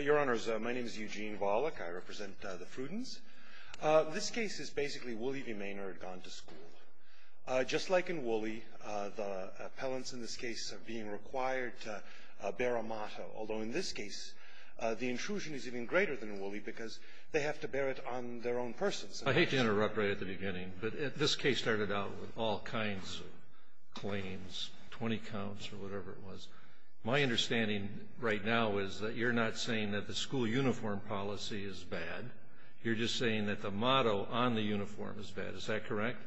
Your Honors, my name is Eugene Volokh. I represent the Fruddens. This case is basically Wooley v. Maynard gone to school. Just like in Wooley, the appellants in this case are being required to bear a motto, although in this case the intrusion is even greater than in Wooley because they have to bear it on their own persons. I hate to interrupt right at the beginning, but this case started out with all kinds of claims, 20 counts or whatever it was. My understanding right now is that you're not saying that the school uniform policy is bad. You're just saying that the motto on the uniform is bad. Is that correct?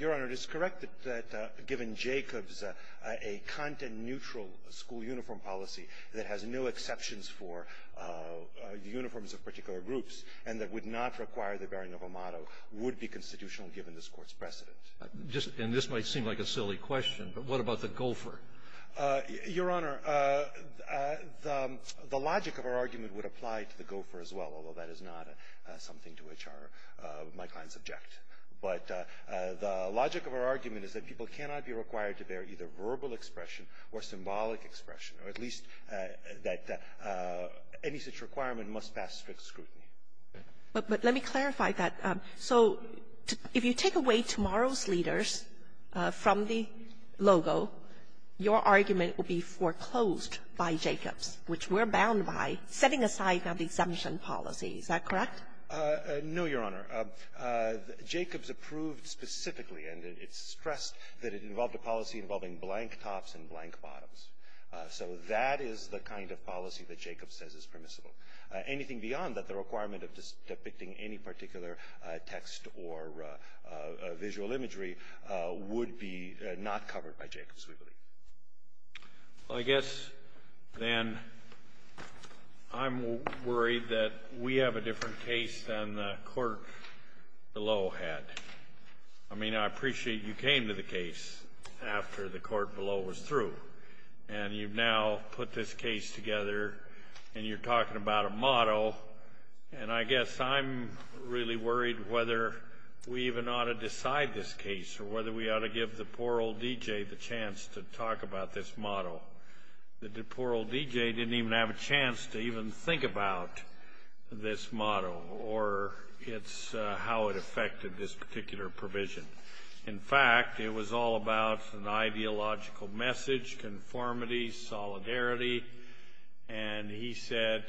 Your Honor, it is correct that given Jacobs a content-neutral school uniform policy that has no exceptions for the uniforms of particular groups and that would not require the bearing of a motto would be constitutional given this Court's precedent. And this might seem like a silly question, but what about the gopher? Your Honor, the logic of our argument would apply to the gopher as well, although that is not something to which my clients object. But the logic of our argument is that people cannot be required to bear either verbal expression or symbolic expression, or at least that any such requirement must pass strict scrutiny. But let me clarify that. So if you take away tomorrow's leaders from the logo, your argument would be foreclosed by Jacobs, which we're bound by, setting aside now the exemption policy. Is that correct? No, Your Honor. Jacobs approved specifically, and it's stressed that it involved a policy involving blank tops and blank bottoms. So that is the kind of policy that Jacobs says is permissible. Anything beyond that, the requirement of just depicting any particular text or visual imagery would be not covered by Jacobs, we believe. Well, I guess then I'm worried that we have a different case than the court below had. I mean, I appreciate you came to the case after the court below was through, and you've now put this case together, and you're talking about a motto, and I guess I'm really worried whether we even ought to decide this case or whether we ought to give the poor old D.J. the chance to talk about this motto. The poor old D.J. didn't even have a chance to even think about this motto or how it affected this particular provision. In fact, it was all about an ideological message, conformity, solidarity, and he said,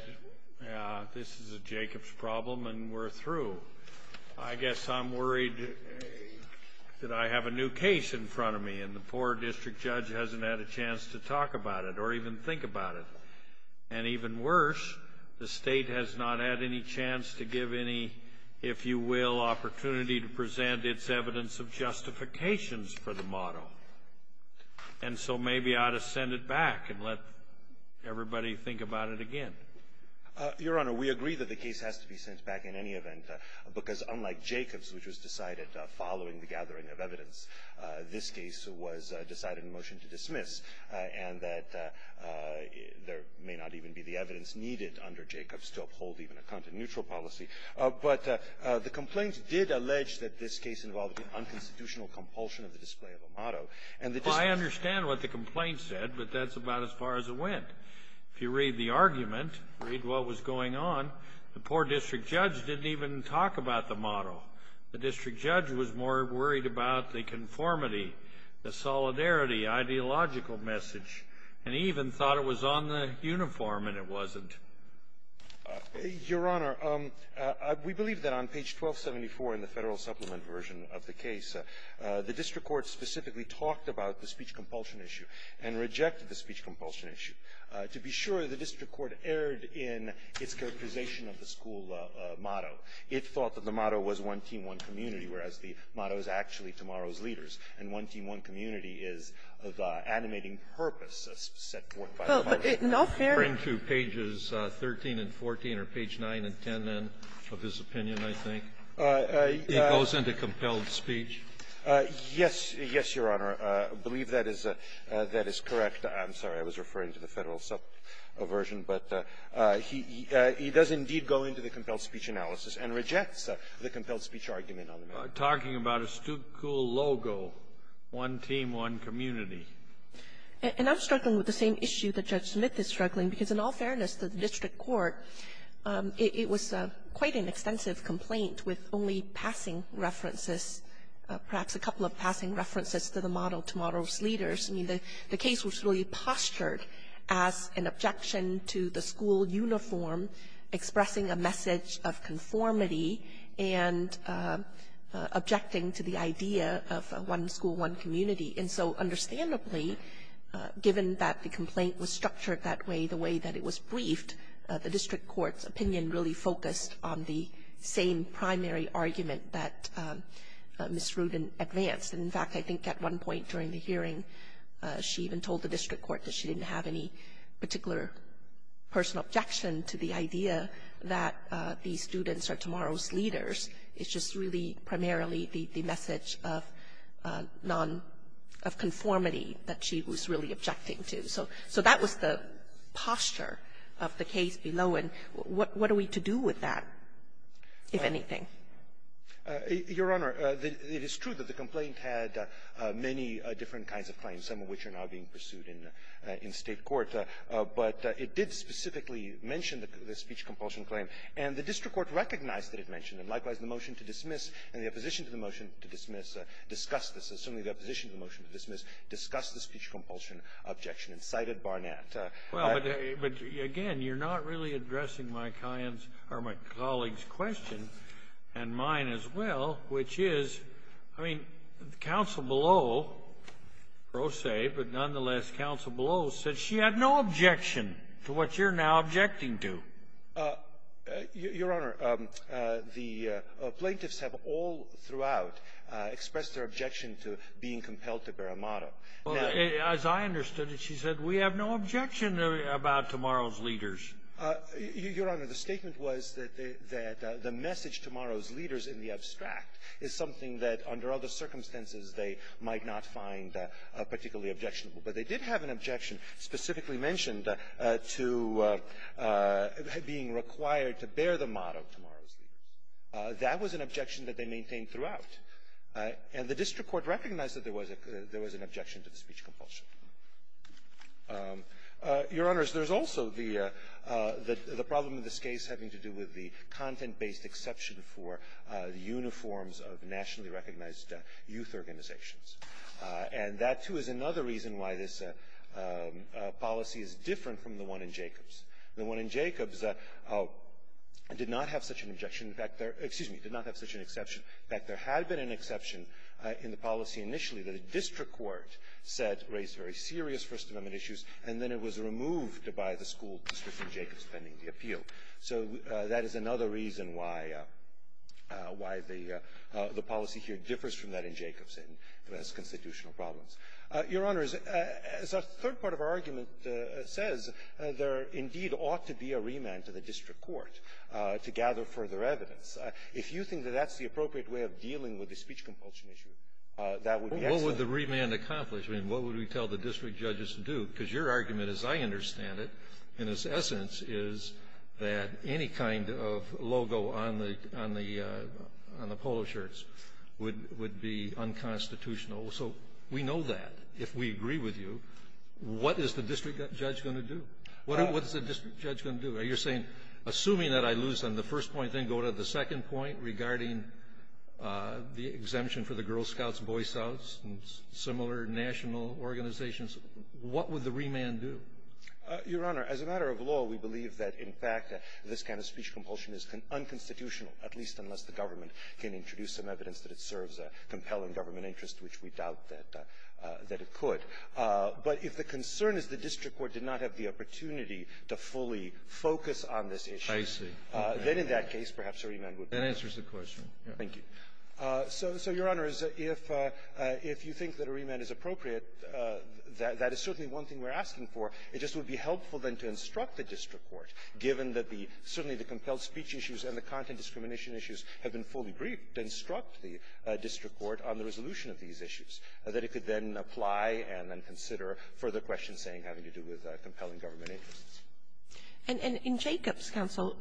this is a Jacobs problem and we're through. I guess I'm worried that I have a new case in front of me, and the poor district judge hasn't had a chance to talk about it or even think about it. And even worse, the state has not had any chance to give any, if you will, opportunity to present its evidence of justifications for the motto. And so maybe I ought to send it back and let everybody think about it again. Your Honor, we agree that the case has to be sent back in any event, because unlike Jacobs, which was decided following the gathering of evidence, this case was decided in motion to dismiss, and that there may not even be the evidence needed under Jacobs to uphold even a content-neutral policy. But the complaints did allege that this case involved an unconstitutional compulsion of the display of a motto. And the dis- I understand what the complaint said, but that's about as far as it went. If you read the argument, read what was going on, the poor district judge didn't even talk about the motto. The district judge was more worried about the conformity, the solidarity, ideological message, and even thought it was on the uniform and it wasn't. Your Honor, we believe that on page 1274 in the Federal Supplement version of the case, the district court specifically talked about the speech compulsion issue and rejected the speech compulsion issue. To be sure, the district court erred in its characterization of the school motto. It thought that the motto was one team, one community, whereas the motto is actually tomorrow's leaders, and one team, one community is the animating purpose set forth by the motto. It's not fair to page 13 and 14 or page 9 and 10, then, of his opinion, I think. It goes into compelled speech. Yes. Yes, Your Honor. I believe that is correct. I'm sorry. I was referring to the Federal Subversion. But he does indeed go into the compelled speech analysis and rejects the compelled speech argument on the matter. Talking about a school logo, one team, one community. And I'm struggling with the same issue that Judge Smith is struggling, because in all fairness to the district court, it was quite an extensive complaint with only passing references, perhaps a couple of passing references to the motto, tomorrow's leaders. I mean, the case was really postured as an objection to the school uniform expressing a message of conformity and objecting to the idea of one school, one community. And so, understandably, given that the complaint was structured that way, the way that it was briefed, the district court's opinion really focused on the same primary argument that Ms. Rudin advanced. And, in fact, I think at one point during the hearing, she even told the district court that she didn't have any particular personal objection to the idea that the students are tomorrow's leaders. It's just really primarily the message of non-conformity that she was really objecting to. So that was the posture of the case below. And what are we to do with that, if anything? Gershengorn Your Honor, it is true that the complaint had many different kinds of claims, some of which are now being pursued in State court. But it did specifically mention the speech compulsion claim, and the district court recognized that it mentioned it. Likewise, the motion to dismiss and the opposition to the motion to dismiss discussed this. Certainly the opposition to the motion to dismiss discussed the speech compulsion objection and cited Barnett. Scalia Well, but again, you're not really addressing my client's or my colleague's question and mine as well, which is, I mean, counsel below, pro se, but nonetheless counsel below said she had no objection to what you're now objecting to. Gershengorn Your Honor, the plaintiffs have all throughout expressed their objection to being compelled to bear a motto. Scalia Well, as I understood it, she said we have no objection about tomorrow's leaders. Gershengorn Your Honor, the statement was that the message tomorrow's leaders in the abstract is something that under other circumstances they might not find particularly objectionable. But they did have an objection specifically mentioned to being required to bear the motto tomorrow's leaders. That was an objection that they maintained throughout. And the district court recognized that there was an objection to the speech compulsion. Your Honors, there's also the problem in this case having to do with the content-based exception for the uniforms of nationally recognized youth organizations. And that, too, is another reason why this policy is different from the one in Jacobs. The one in Jacobs did not have such an objection. In fact, there – excuse me – did not have such an exception. In fact, there had been an exception in the policy initially that a district court said raised very serious First Amendment issues, and then it was removed by the school district in Jacobs pending the appeal. So that is another reason why the policy here differs from that in Jacobs. It has constitutional problems. Your Honors, as a third part of our argument says, there indeed ought to be a remand to the district court to gather further evidence. If you think that that's the appropriate way of dealing with the speech compulsion issue, that would be excellent. Well, what would the remand accomplish? I mean, what would we tell the district judges to do? Because your argument, as I understand it, in its essence, is that any kind of logo on the – on the polo shirts would be unconstitutional. So we know that. If we agree with you, what is the district judge going to do? What is the district judge going to do? Are you saying, assuming that I lose on the first point, then go to the second point regarding the exemption for the Girl Scouts' voice-outs and similar national organizations, what would the remand do? Your Honor, as a matter of law, we believe that, in fact, this kind of speech compulsion is unconstitutional, at least unless the government can introduce some evidence that it serves a compelling government interest, which we doubt that it could. But if the concern is the district court did not have the opportunity to fully focus on this issue, then in that case, perhaps a remand would be helpful. That answers the question. Thank you. So, Your Honor, if you think that a remand is appropriate, that is certainly one thing we're asking for. It just would be helpful, then, to instruct the district court, given that the — certainly the compelled speech issues and the content discrimination issues have been fully briefed, instruct the district court on the resolution of these issues, that it could then apply and then consider further questions saying having to do with compelling government interests. And in Jacob's counsel,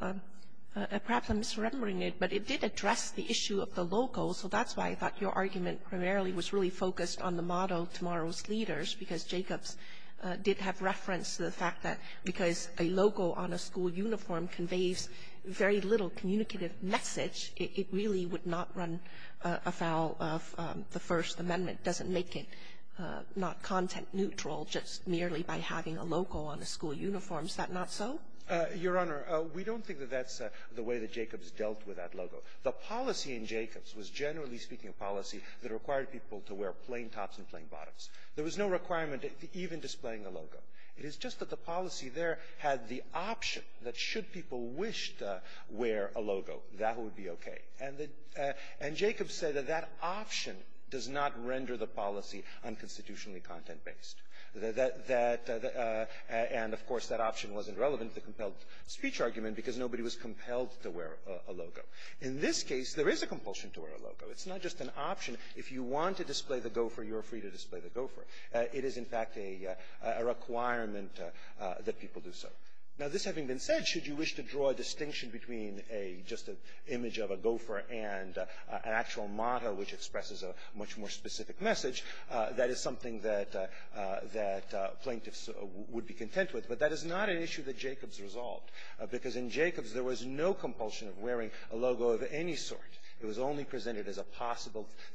perhaps I'm misremembering it, but it did address the issue of the logo, so that's why I thought your argument primarily was really focused on the motto, Tomorrow's Leaders, because Jacob's did have reference to the fact that because a logo on a school uniform conveys very little communicative message, it really would not run afoul of the First Amendment, doesn't make it not content-neutral just merely by having a logo on a school uniform. Is that not so? Your Honor, we don't think that that's the way that Jacob's dealt with that logo. The policy in Jacob's was, generally speaking, a policy that required people to wear plain tops and plain bottoms. There was no requirement even displaying a logo. It is just that the policy there had the option that should people wish to wear a logo, that would be okay. And the — and Jacob said that that option does not render the policy unconstitutionally content-based. That — and, of course, that option wasn't relevant to the compelled speech argument because nobody was compelled to wear a logo. In this case, there is a compulsion to wear a logo. It's not just an option. If you want to display the gopher, you're free to display the gopher. It is, in fact, a requirement that people do so. Now, this having been said, should you wish to draw a distinction between a — just an image of a gopher and an actual model which expresses a much more specific message, that is something that — that plaintiffs would be content with. But that is not an issue that Jacob's resolved, because in Jacob's there was no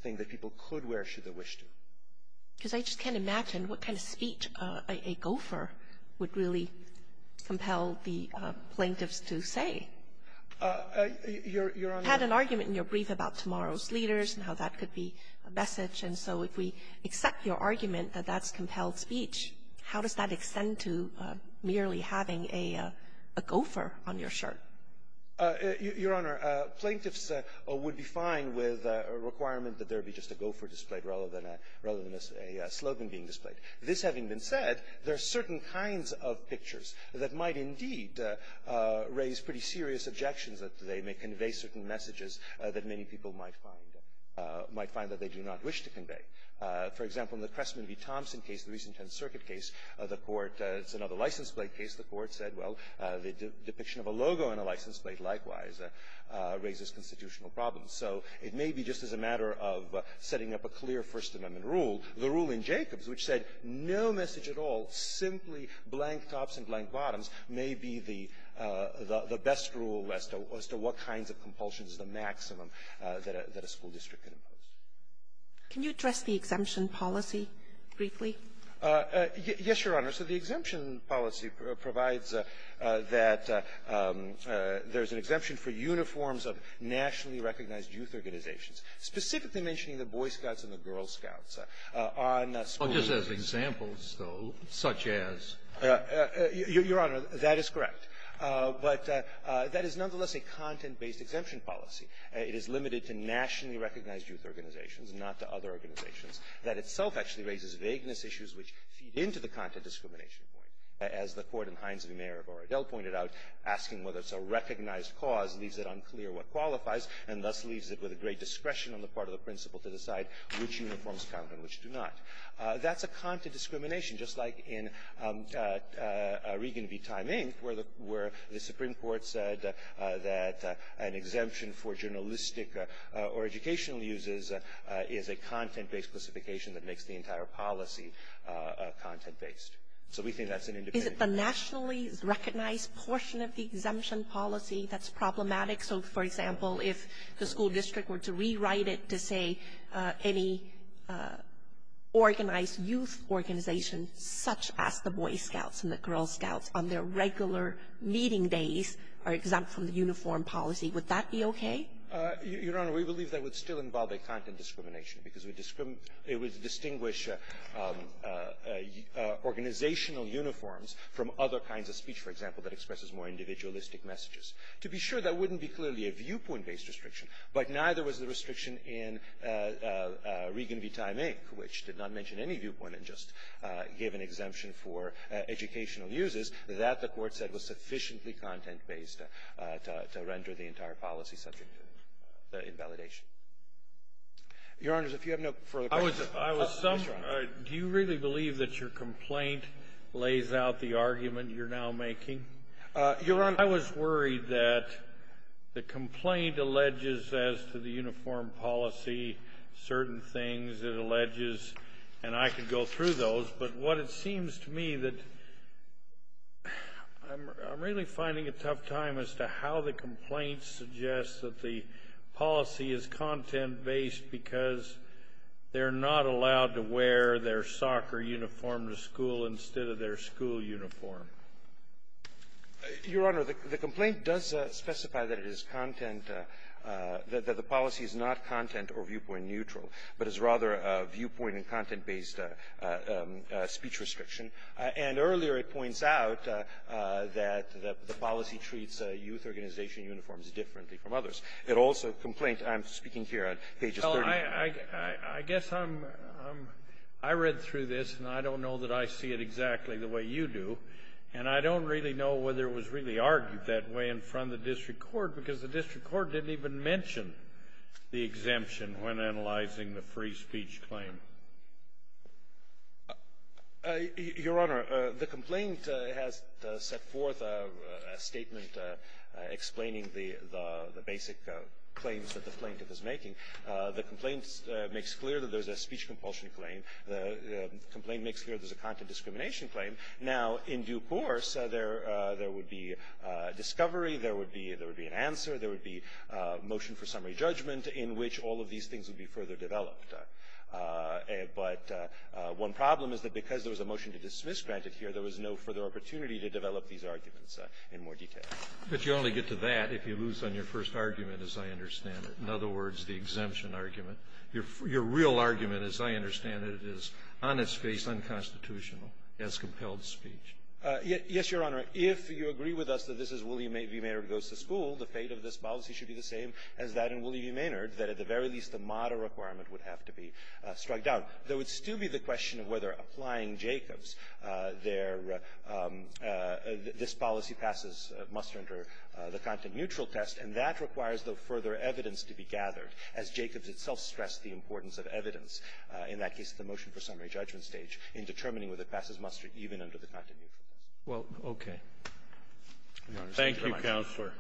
thing that people could wear should they wish to. Kagan. Because I just can't imagine what kind of speech a gopher would really compel the plaintiffs to say. Your Honor — You had an argument in your brief about tomorrow's leaders and how that could be a message. And so if we accept your argument that that's compelled speech, how does that extend to merely having a gopher on your shirt? Your Honor, plaintiffs would be fine with a requirement that there be just a gopher displayed rather than a — rather than a slogan being displayed. This having been said, there are certain kinds of pictures that might indeed raise pretty serious objections that they may convey certain messages that many people might find — might find that they do not wish to convey. For example, in the Crestman v. Thompson case, the recent 10th Circuit case, the Court — it's another license plate case. The Court said, well, the depiction of a logo on a license plate, likewise, raises constitutional problems. So it may be just as a matter of setting up a clear First Amendment rule, the rule in Jacob's which said no message at all, simply blank tops and blank bottoms, may be the best rule as to what kinds of compulsions is the maximum that a school district can impose. Can you address the exemption policy briefly? Yes, Your Honor. So the exemption policy provides that there's an exemption for uniforms of nationally recognized youth organizations, specifically mentioning the Boy Scouts and the Girl Scouts on schools. Well, just as examples, though, such as? Your Honor, that is correct. But that is nonetheless a content-based exemption policy. It is limited to nationally recognized youth organizations, not to other organizations. That itself actually raises vagueness issues, which feed into the content discrimination point. As the Court in Hines v. Mayer of Orodell pointed out, asking whether it's a recognized cause leaves it unclear what qualifies, and thus leaves it with a great discretion on the part of the principal to decide which uniforms count and which do not. That's a content discrimination, just like in Regan v. Time, Inc., where the Supreme Court said that an exemption for journalistic or educational uses is a content-based specification that makes the entire policy content-based. So we think that's an independent. Is it the nationally recognized portion of the exemption policy that's problematic? So, for example, if the school district were to rewrite it to say any organized youth organization such as the Boy Scouts and the Girl Scouts on their regular meeting days are exempt from the uniform policy, would that be okay? Your Honor, we believe that would still involve a content discrimination because it would distinguish organizational uniforms from other kinds of speech, for example, that expresses more individualistic messages. To be sure, that wouldn't be clearly a viewpoint-based restriction, but neither was the restriction in Regan v. Time, Inc., which did not mention any viewpoint and just gave an exemption for educational uses. That, the Court said, was sufficiently content-based to render the entire policy subject to the invalidation. Your Honors, if you have no further questions. Yes, Your Honor. Do you really believe that your complaint lays out the argument you're now making? Your Honor. I was worried that the complaint alleges as to the uniform policy certain things it alleges, and I could go through those, but what it seems to me that I'm really finding a tough time as to how the complaint suggests that the policy is content-based because they're not allowed to wear their soccer uniform to school instead of their school uniform. Your Honor, the complaint does specify that it is content, that the policy is not content or viewpoint-neutral, but is rather a viewpoint- and content-based speech restriction. And earlier, it points out that the policy treats youth organization uniforms differently from others. It also complains, and I'm speaking here on pages 30. Well, I guess I'm ‑‑ I read through this, and I don't know that I see it exactly the way you do, and I don't really know whether it was really argued that way in front of the district court because the district court didn't even mention the exemption when analyzing the free speech claim. Your Honor, the complaint has set forth a statement explaining the basic claims that the plaintiff is making. The complaint makes clear that there's a speech compulsion claim. The complaint makes clear there's a content discrimination claim. Now, in due course, there would be discovery, there would be an answer, there would be motion for summary judgment in which all of these things would be further developed. But one problem is that because there was a motion to dismiss granted here, there was no further opportunity to develop these arguments in more detail. But you only get to that if you lose on your first argument, as I understand it, in other words, the exemption argument. Your real argument, as I understand it, is on its face unconstitutional, as compelled speech. Yes, Your Honor. If you agree with us that this is Willie V. Maynard goes to school, the fate of this policy should be the same as that in Willie V. Maynard, that at the very least, a moderate requirement would have to be struck down. There would still be the question of whether applying Jacobs, their – this policy passes muster under the content-neutral test. And that requires, though, further evidence to be gathered, as Jacobs itself stressed the importance of evidence in that case of the motion for summary judgment stage in determining whether it passes muster even under the content-neutral test. Well, okay. Thank you, Counselor.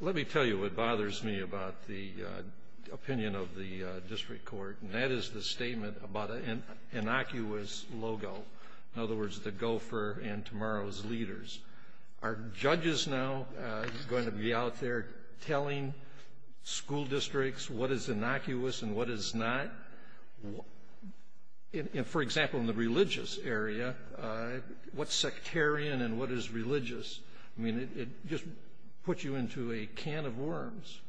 Let me tell you what bothers me about the opinion of the district court, and that is the statement about an innocuous logo, in other words, the gopher and tomorrow's leaders. Are judges now going to be out there telling school districts what is innocuous and what is not? For example, in the religious area, what's sectarian and what is religious? I mean, it just puts you into a can of worms.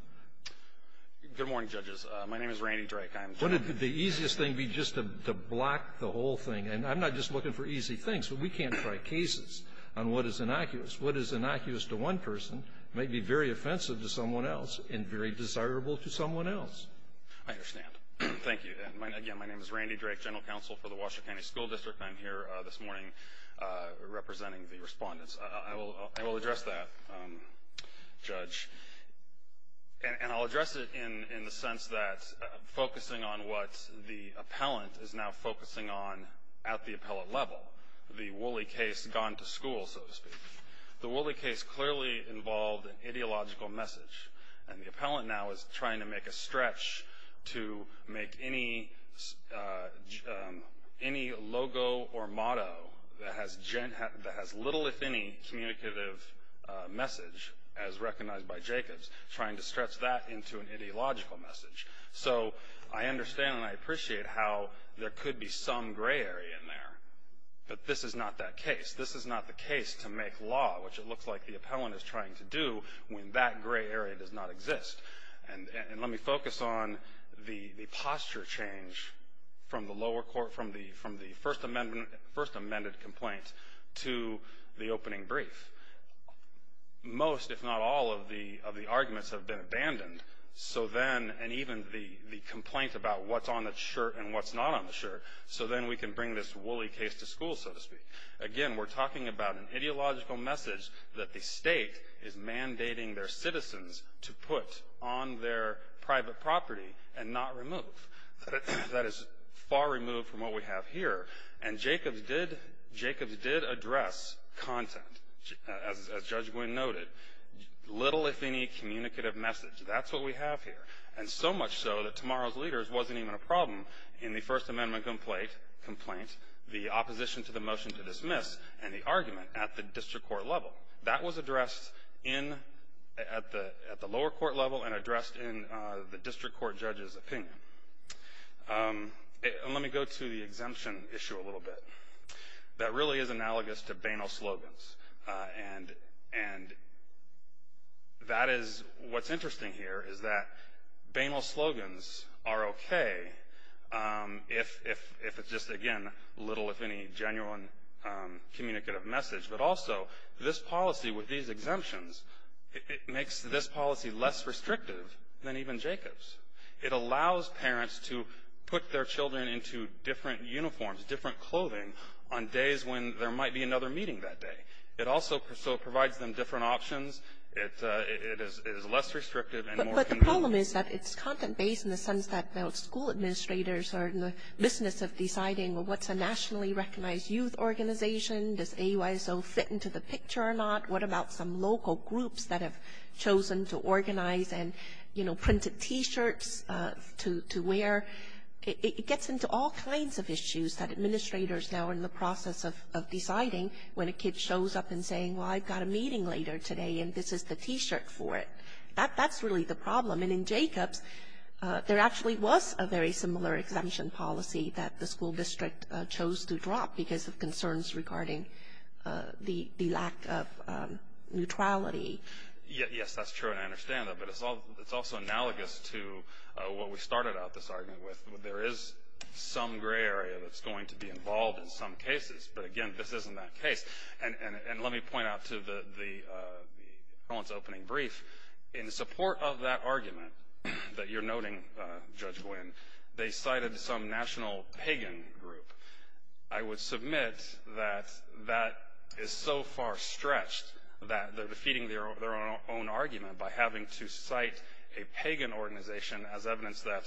Good morning, judges. My name is Randy Drake. I'm – Wouldn't the easiest thing be just to block the whole thing? And I'm not just looking for easy things, but we can't try cases on what is innocuous. What is innocuous to one person may be very offensive to someone else and very desirable to someone else. I understand. Thank you. Again, my name is Randy Drake, General Counsel for the Washoe County School District. I'm here this morning representing the respondents. I will address that, Judge, and I'll address it in the sense that focusing on what the appellant level, the Woolley case gone to school, so to speak. The Woolley case clearly involved an ideological message, and the appellant now is trying to make a stretch to make any logo or motto that has little, if any, communicative message, as recognized by Jacobs, trying to stretch that into an ideological message. So, I understand and I appreciate how there could be some gray area in there. But this is not that case. This is not the case to make law, which it looks like the appellant is trying to do, when that gray area does not exist. And let me focus on the posture change from the first amended complaint to the opening brief. Most, if not all, of the arguments have been abandoned. So then, and even the complaint about what's on the shirt and what's not on the shirt, so then we can bring this Woolley case to school, so to speak. Again, we're talking about an ideological message that the state is mandating their citizens to put on their private property and not remove. That is far removed from what we have here. And Jacobs did address content, as Judge Gwynne noted, little, if any, communicative message. That's what we have here. And so much so that Tomorrow's Leaders wasn't even a problem in the First Amendment complaint, the opposition to the motion to dismiss, and the argument at the district court level. That was addressed at the lower court level and addressed in the district court judge's opinion. And let me go to the exemption issue a little bit. That really is analogous to banal slogans. And that is, what's interesting here is that banal slogans are okay if it's just, again, little, if any, genuine communicative message. But also, this policy with these exemptions, it makes this policy less restrictive than even Jacobs'. It allows parents to put their children into different uniforms, different clothing, on days when there might be another meeting that day. It also provides them different options. It is less restrictive and more convenient. But the problem is that it's content-based in the sense that the school administrators are in the business of deciding, well, what's a nationally recognized youth organization? Does AUISO fit into the picture or not? What about some local groups that have chosen to organize and, you know, printed T-shirts to wear? It gets into all kinds of issues that administrators now are in the process of deciding when a kid shows up and saying, well, I've got a meeting later today, and this is the T-shirt for it. That's really the problem. And in Jacobs', there actually was a very similar exemption policy that the school district chose to drop because of concerns regarding the lack of neutrality. Yes, that's true, and I understand that. But it's also analogous to what we started out this argument with. There is some gray area that's going to be involved in some cases. But, again, this isn't that case. And let me point out to the opening brief, in support of that argument that you're noting, Judge Gwinn, they cited some national pagan group. I would submit that that is so far stretched that they're defeating their own argument by having to cite a pagan organization as evidence that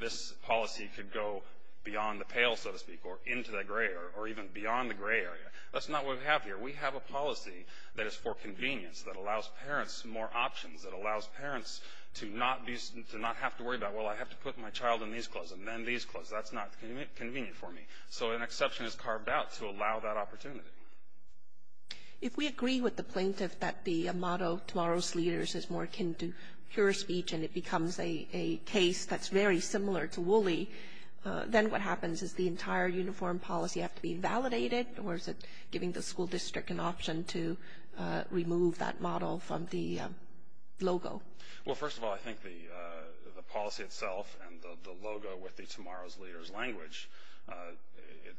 this policy could go beyond the pale, so to speak, or into the gray or even beyond the gray area. That's not what we have here. We have a policy that is for convenience, that allows parents more options, that allows parents to not have to worry about, well, I have to put my child in these clothes and then these clothes. That's not convenient for me. So an exception is carved out to allow that opportunity. If we agree with the plaintiff that the motto, Tomorrow's Leaders, is more akin to pure speech and it becomes a case that's very similar to Woolley, then what happens? Does the entire uniform policy have to be validated, or is it giving the school district an option to remove that model from the logo? Well, first of all, I think the policy itself and the logo with the Tomorrow's Leaders language,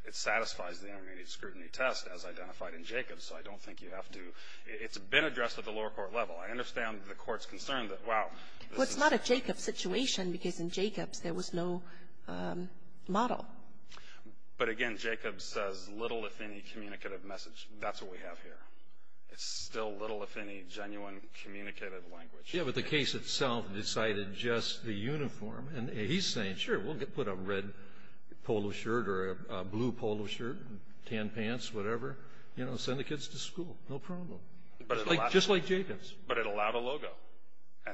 it satisfies the intermediate scrutiny test as identified in Jacobs. So I don't think you have to – it's been addressed at the lower court level. I understand the court's concern that, wow, this is – Well, it's not a Jacobs situation because in Jacobs there was no model. But, again, Jacobs says little, if any, communicative message. That's what we have here. It's still little, if any, genuine communicative language. Yeah, but the case itself decided just the uniform. And he's saying, sure, we'll put a red polo shirt or a blue polo shirt, tan pants, whatever, send the kids to school, no problem, just like Jacobs. But it allowed a logo.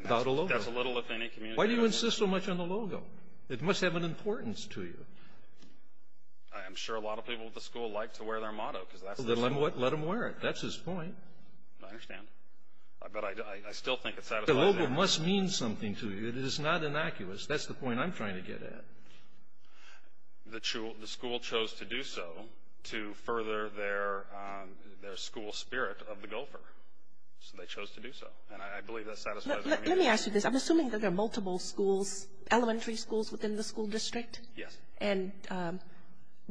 Allowed a logo. That's a little, if any, communicative message. Why do you insist so much on the logo? It must have an importance to you. I'm sure a lot of people at the school like to wear their motto because that's the school. Then let them wear it. That's his point. I understand. But I still think it satisfies their – The logo must mean something to you. It is not innocuous. That's the point I'm trying to get at. The school chose to do so to further their school spirit of the gopher. So they chose to do so. And I believe that satisfies – Let me ask you this. I'm assuming that there are multiple schools, elementary schools within the school district. Yes. And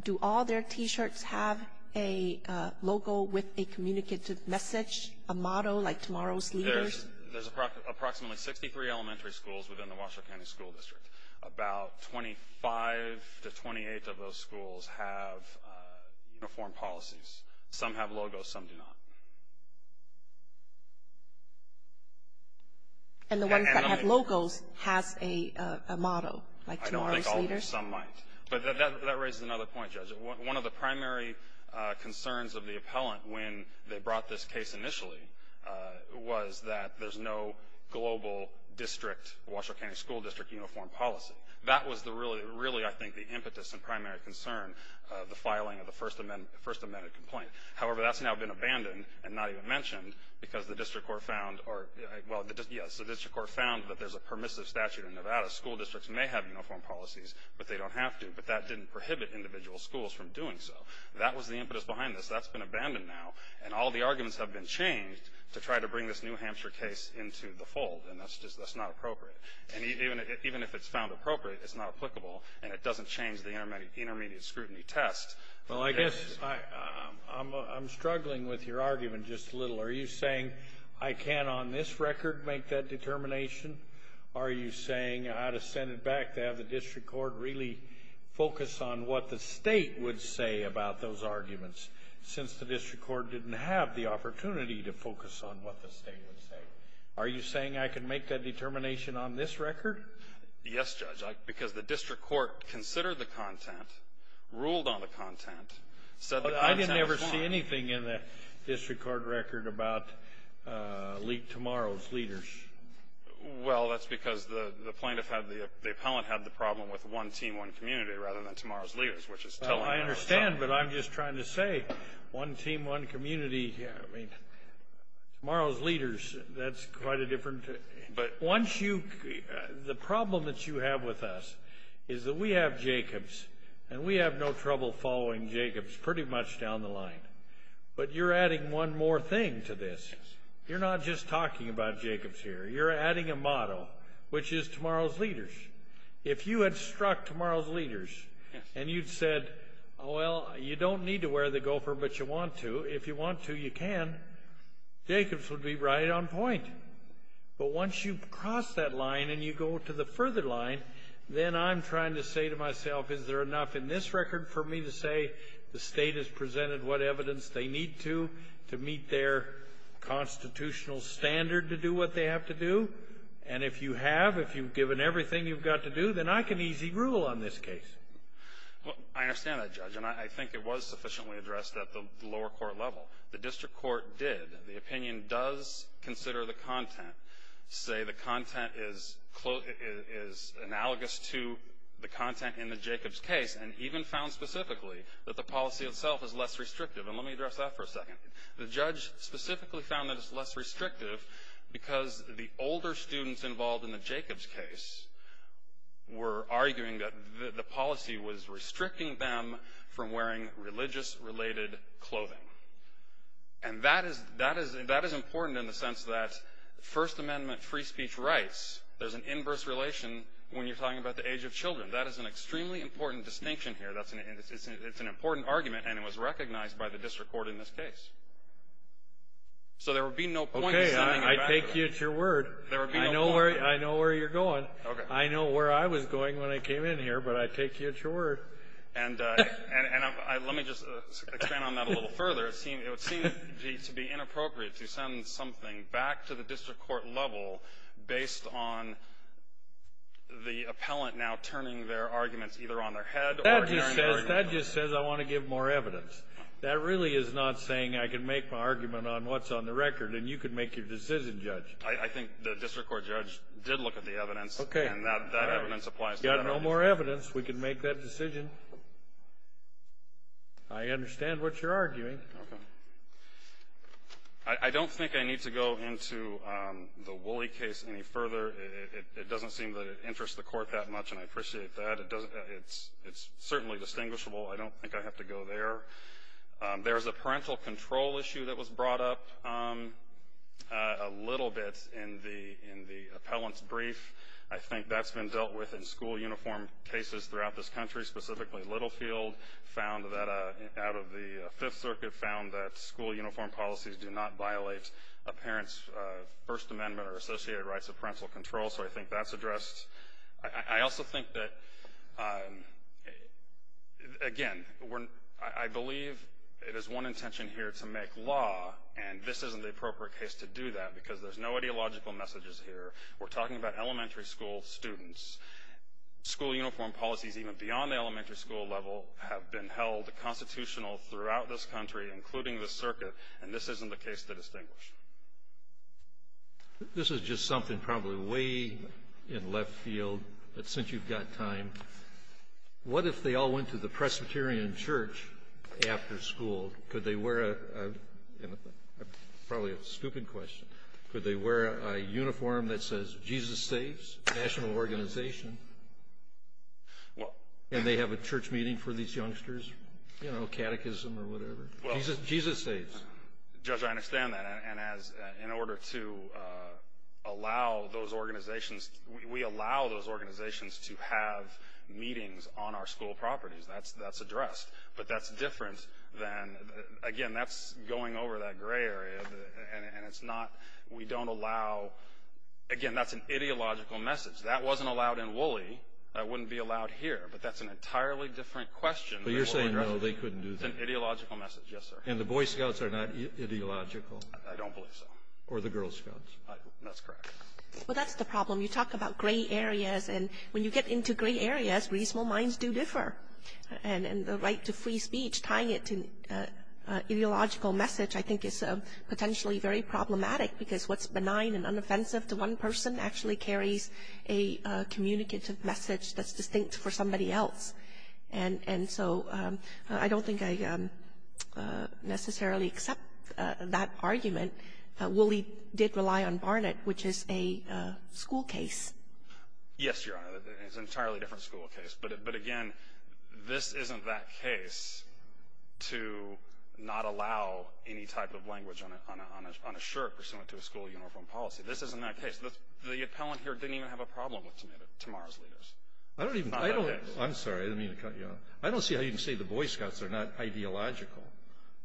do all their T-shirts have a logo with a communicative message, a motto like Tomorrow's Leaders? There's approximately 63 elementary schools within the Washoe County School District. About 25 to 28 of those schools have uniform policies. Some have logos, some do not. And the ones that have logos has a motto like Tomorrow's Leaders? I think some might. But that raises another point, Judge. One of the primary concerns of the appellant when they brought this case initially was that there's no global district, Washoe County School District uniform policy. That was really, I think, the impetus and primary concern of the filing of the First Amendment complaint. However, that's now been abandoned and not even mentioned because the district court found – But they don't have to. But that didn't prohibit individual schools from doing so. That was the impetus behind this. That's been abandoned now. And all the arguments have been changed to try to bring this New Hampshire case into the fold. And that's not appropriate. And even if it's found appropriate, it's not applicable. And it doesn't change the intermediate scrutiny test. Well, I guess I'm struggling with your argument just a little. Are you saying I can't on this record make that determination? Are you saying I ought to send it back to have the district court really focus on what the state would say about those arguments since the district court didn't have the opportunity to focus on what the state would say? Are you saying I can make that determination on this record? Yes, Judge, because the district court considered the content, ruled on the content, said the content was fine. But I didn't ever see anything in the district court record about tomorrow's leaders. Well, that's because the plaintiff had the appellant had the problem with one team, one community, rather than tomorrow's leaders, which is telling the whole story. I understand, but I'm just trying to say one team, one community. I mean, tomorrow's leaders, that's quite a different. But once you – the problem that you have with us is that we have Jacobs, and we have no trouble following Jacobs pretty much down the line. But you're adding one more thing to this. You're not just talking about Jacobs here. You're adding a motto, which is tomorrow's leaders. If you had struck tomorrow's leaders and you'd said, well, you don't need to wear the gopher, but you want to, if you want to, you can, Jacobs would be right on point. But once you cross that line and you go to the further line, then I'm trying to say to myself, is there enough in this record for me to say the state has presented what evidence they need to, to meet their constitutional standard to do what they have to do? And if you have, if you've given everything you've got to do, then I can easy rule on this case. Well, I understand that, Judge, and I think it was sufficiently addressed at the lower court level. The district court did. The opinion does consider the content, say the content is analogous to the content in the Jacobs case, and even found specifically that the policy itself is less restrictive. And let me address that for a second. The judge specifically found that it's less restrictive because the older students involved in the Jacobs case were arguing that the policy was restricting them from wearing religious-related clothing. And that is important in the sense that First Amendment free speech rights, there's an inverse relation when you're talking about the age of children. That is an extremely important distinction here. It's an important argument, and it was recognized by the district court in this case. So there would be no point in sending it back. Okay. I take you at your word. There would be no point. I know where you're going. I know where I was going when I came in here, but I take you at your word. And let me just expand on that a little further. It would seem to be inappropriate to send something back to the district court level based on the appellant now turning their arguments either on their head or during the argument. That just says I want to give more evidence. That really is not saying I can make my argument on what's on the record, and you can make your decision, Judge. I think the district court judge did look at the evidence, and that evidence applies to that argument. If we had more evidence, we could make that decision. I understand what you're arguing. Okay. I don't think I need to go into the Woolley case any further. It doesn't seem that it interests the court that much, and I appreciate that. It's certainly distinguishable. I don't think I have to go there. There's a parental control issue that was brought up a little bit in the appellant's brief. I think that's been dealt with in school uniform cases throughout this country, specifically Littlefield, out of the Fifth Circuit, found that school uniform policies do not violate a parent's First Amendment or associated rights of parental control, so I think that's addressed. I also think that, again, I believe it is one intention here to make law, and this isn't the appropriate case to do that because there's no ideological messages here. We're talking about elementary school students. School uniform policies, even beyond the elementary school level, have been held constitutional throughout this country, including the circuit, and this isn't the case to distinguish. This is just something probably way in left field, but since you've got time, what if they all went to the Presbyterian church after school? Could they wear a – probably a stupid question. Could they wear a uniform that says, Jesus saves national organization, and they have a church meeting for these youngsters, you know, catechism or whatever? Jesus saves. Judge, I understand that, and in order to allow those organizations – we allow those organizations to have meetings on our school properties. That's addressed, but that's different than – again, that's going over that gray area, and it's not – we don't allow – again, that's an ideological message. That wasn't allowed in Woolley. That wouldn't be allowed here, but that's an entirely different question. But you're saying no, they couldn't do that. It's an ideological message, yes, sir. And the Boy Scouts are not ideological? I don't believe so. Or the Girl Scouts. That's correct. Well, that's the problem. You talk about gray areas, and when you get into gray areas, reasonable minds do differ, and the right to free speech, tying it to ideological message, I think is potentially very problematic because what's benign and unoffensive to one person actually carries a communicative message that's distinct for somebody else. And so I don't think I necessarily accept that argument. Woolley did rely on Barnett, which is a school case. Yes, Your Honor, it's an entirely different school case. But, again, this isn't that case to not allow any type of language on a shirt pursuant to a school uniform policy. This isn't that case. The appellant here didn't even have a problem with tomorrow's leaders. I'm sorry, I didn't mean to cut you off. I don't see how you can say the Boy Scouts are not ideological.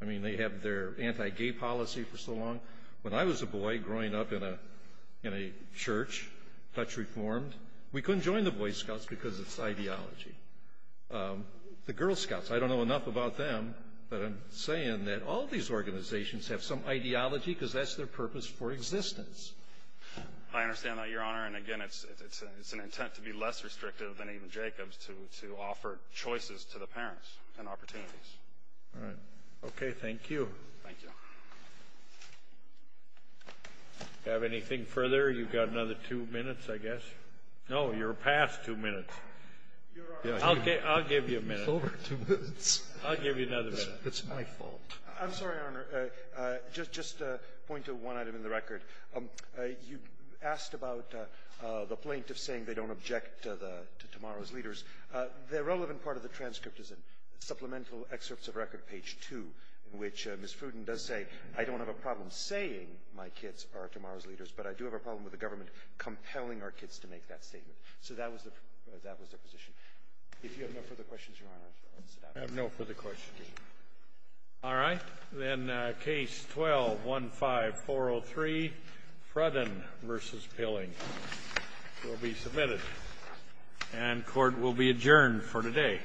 I mean, they have their anti-gay policy for so long. When I was a boy growing up in a church, Dutch Reformed, we couldn't join the Boy Scouts because it's ideology. The Girl Scouts, I don't know enough about them, but I'm saying that all these organizations have some ideology because that's their purpose for existence. I understand that, Your Honor, and, again, it's an intent to be less restrictive than even Jacobs to offer choices to the parents and opportunities. All right. Okay, thank you. Thank you. Do I have anything further? You've got another two minutes, I guess. No, you're past two minutes. I'll give you a minute. You're over two minutes. I'll give you another minute. It's my fault. I'm sorry, Your Honor. Just a point to one item in the record. You asked about the plaintiff saying they don't object to tomorrow's leaders. The relevant part of the transcript is in Supplemental Excerpts of Record, page 2, in which Ms. Fruden does say, I don't have a problem saying my kids are tomorrow's leaders, but I do have a problem with the government compelling our kids to make that statement. So that was their position. If you have no further questions, Your Honor, I'll sit down. I have no further questions. All right. Then Case 12-15-403, Frudin v. Pilling, will be submitted. And court will be adjourned for today.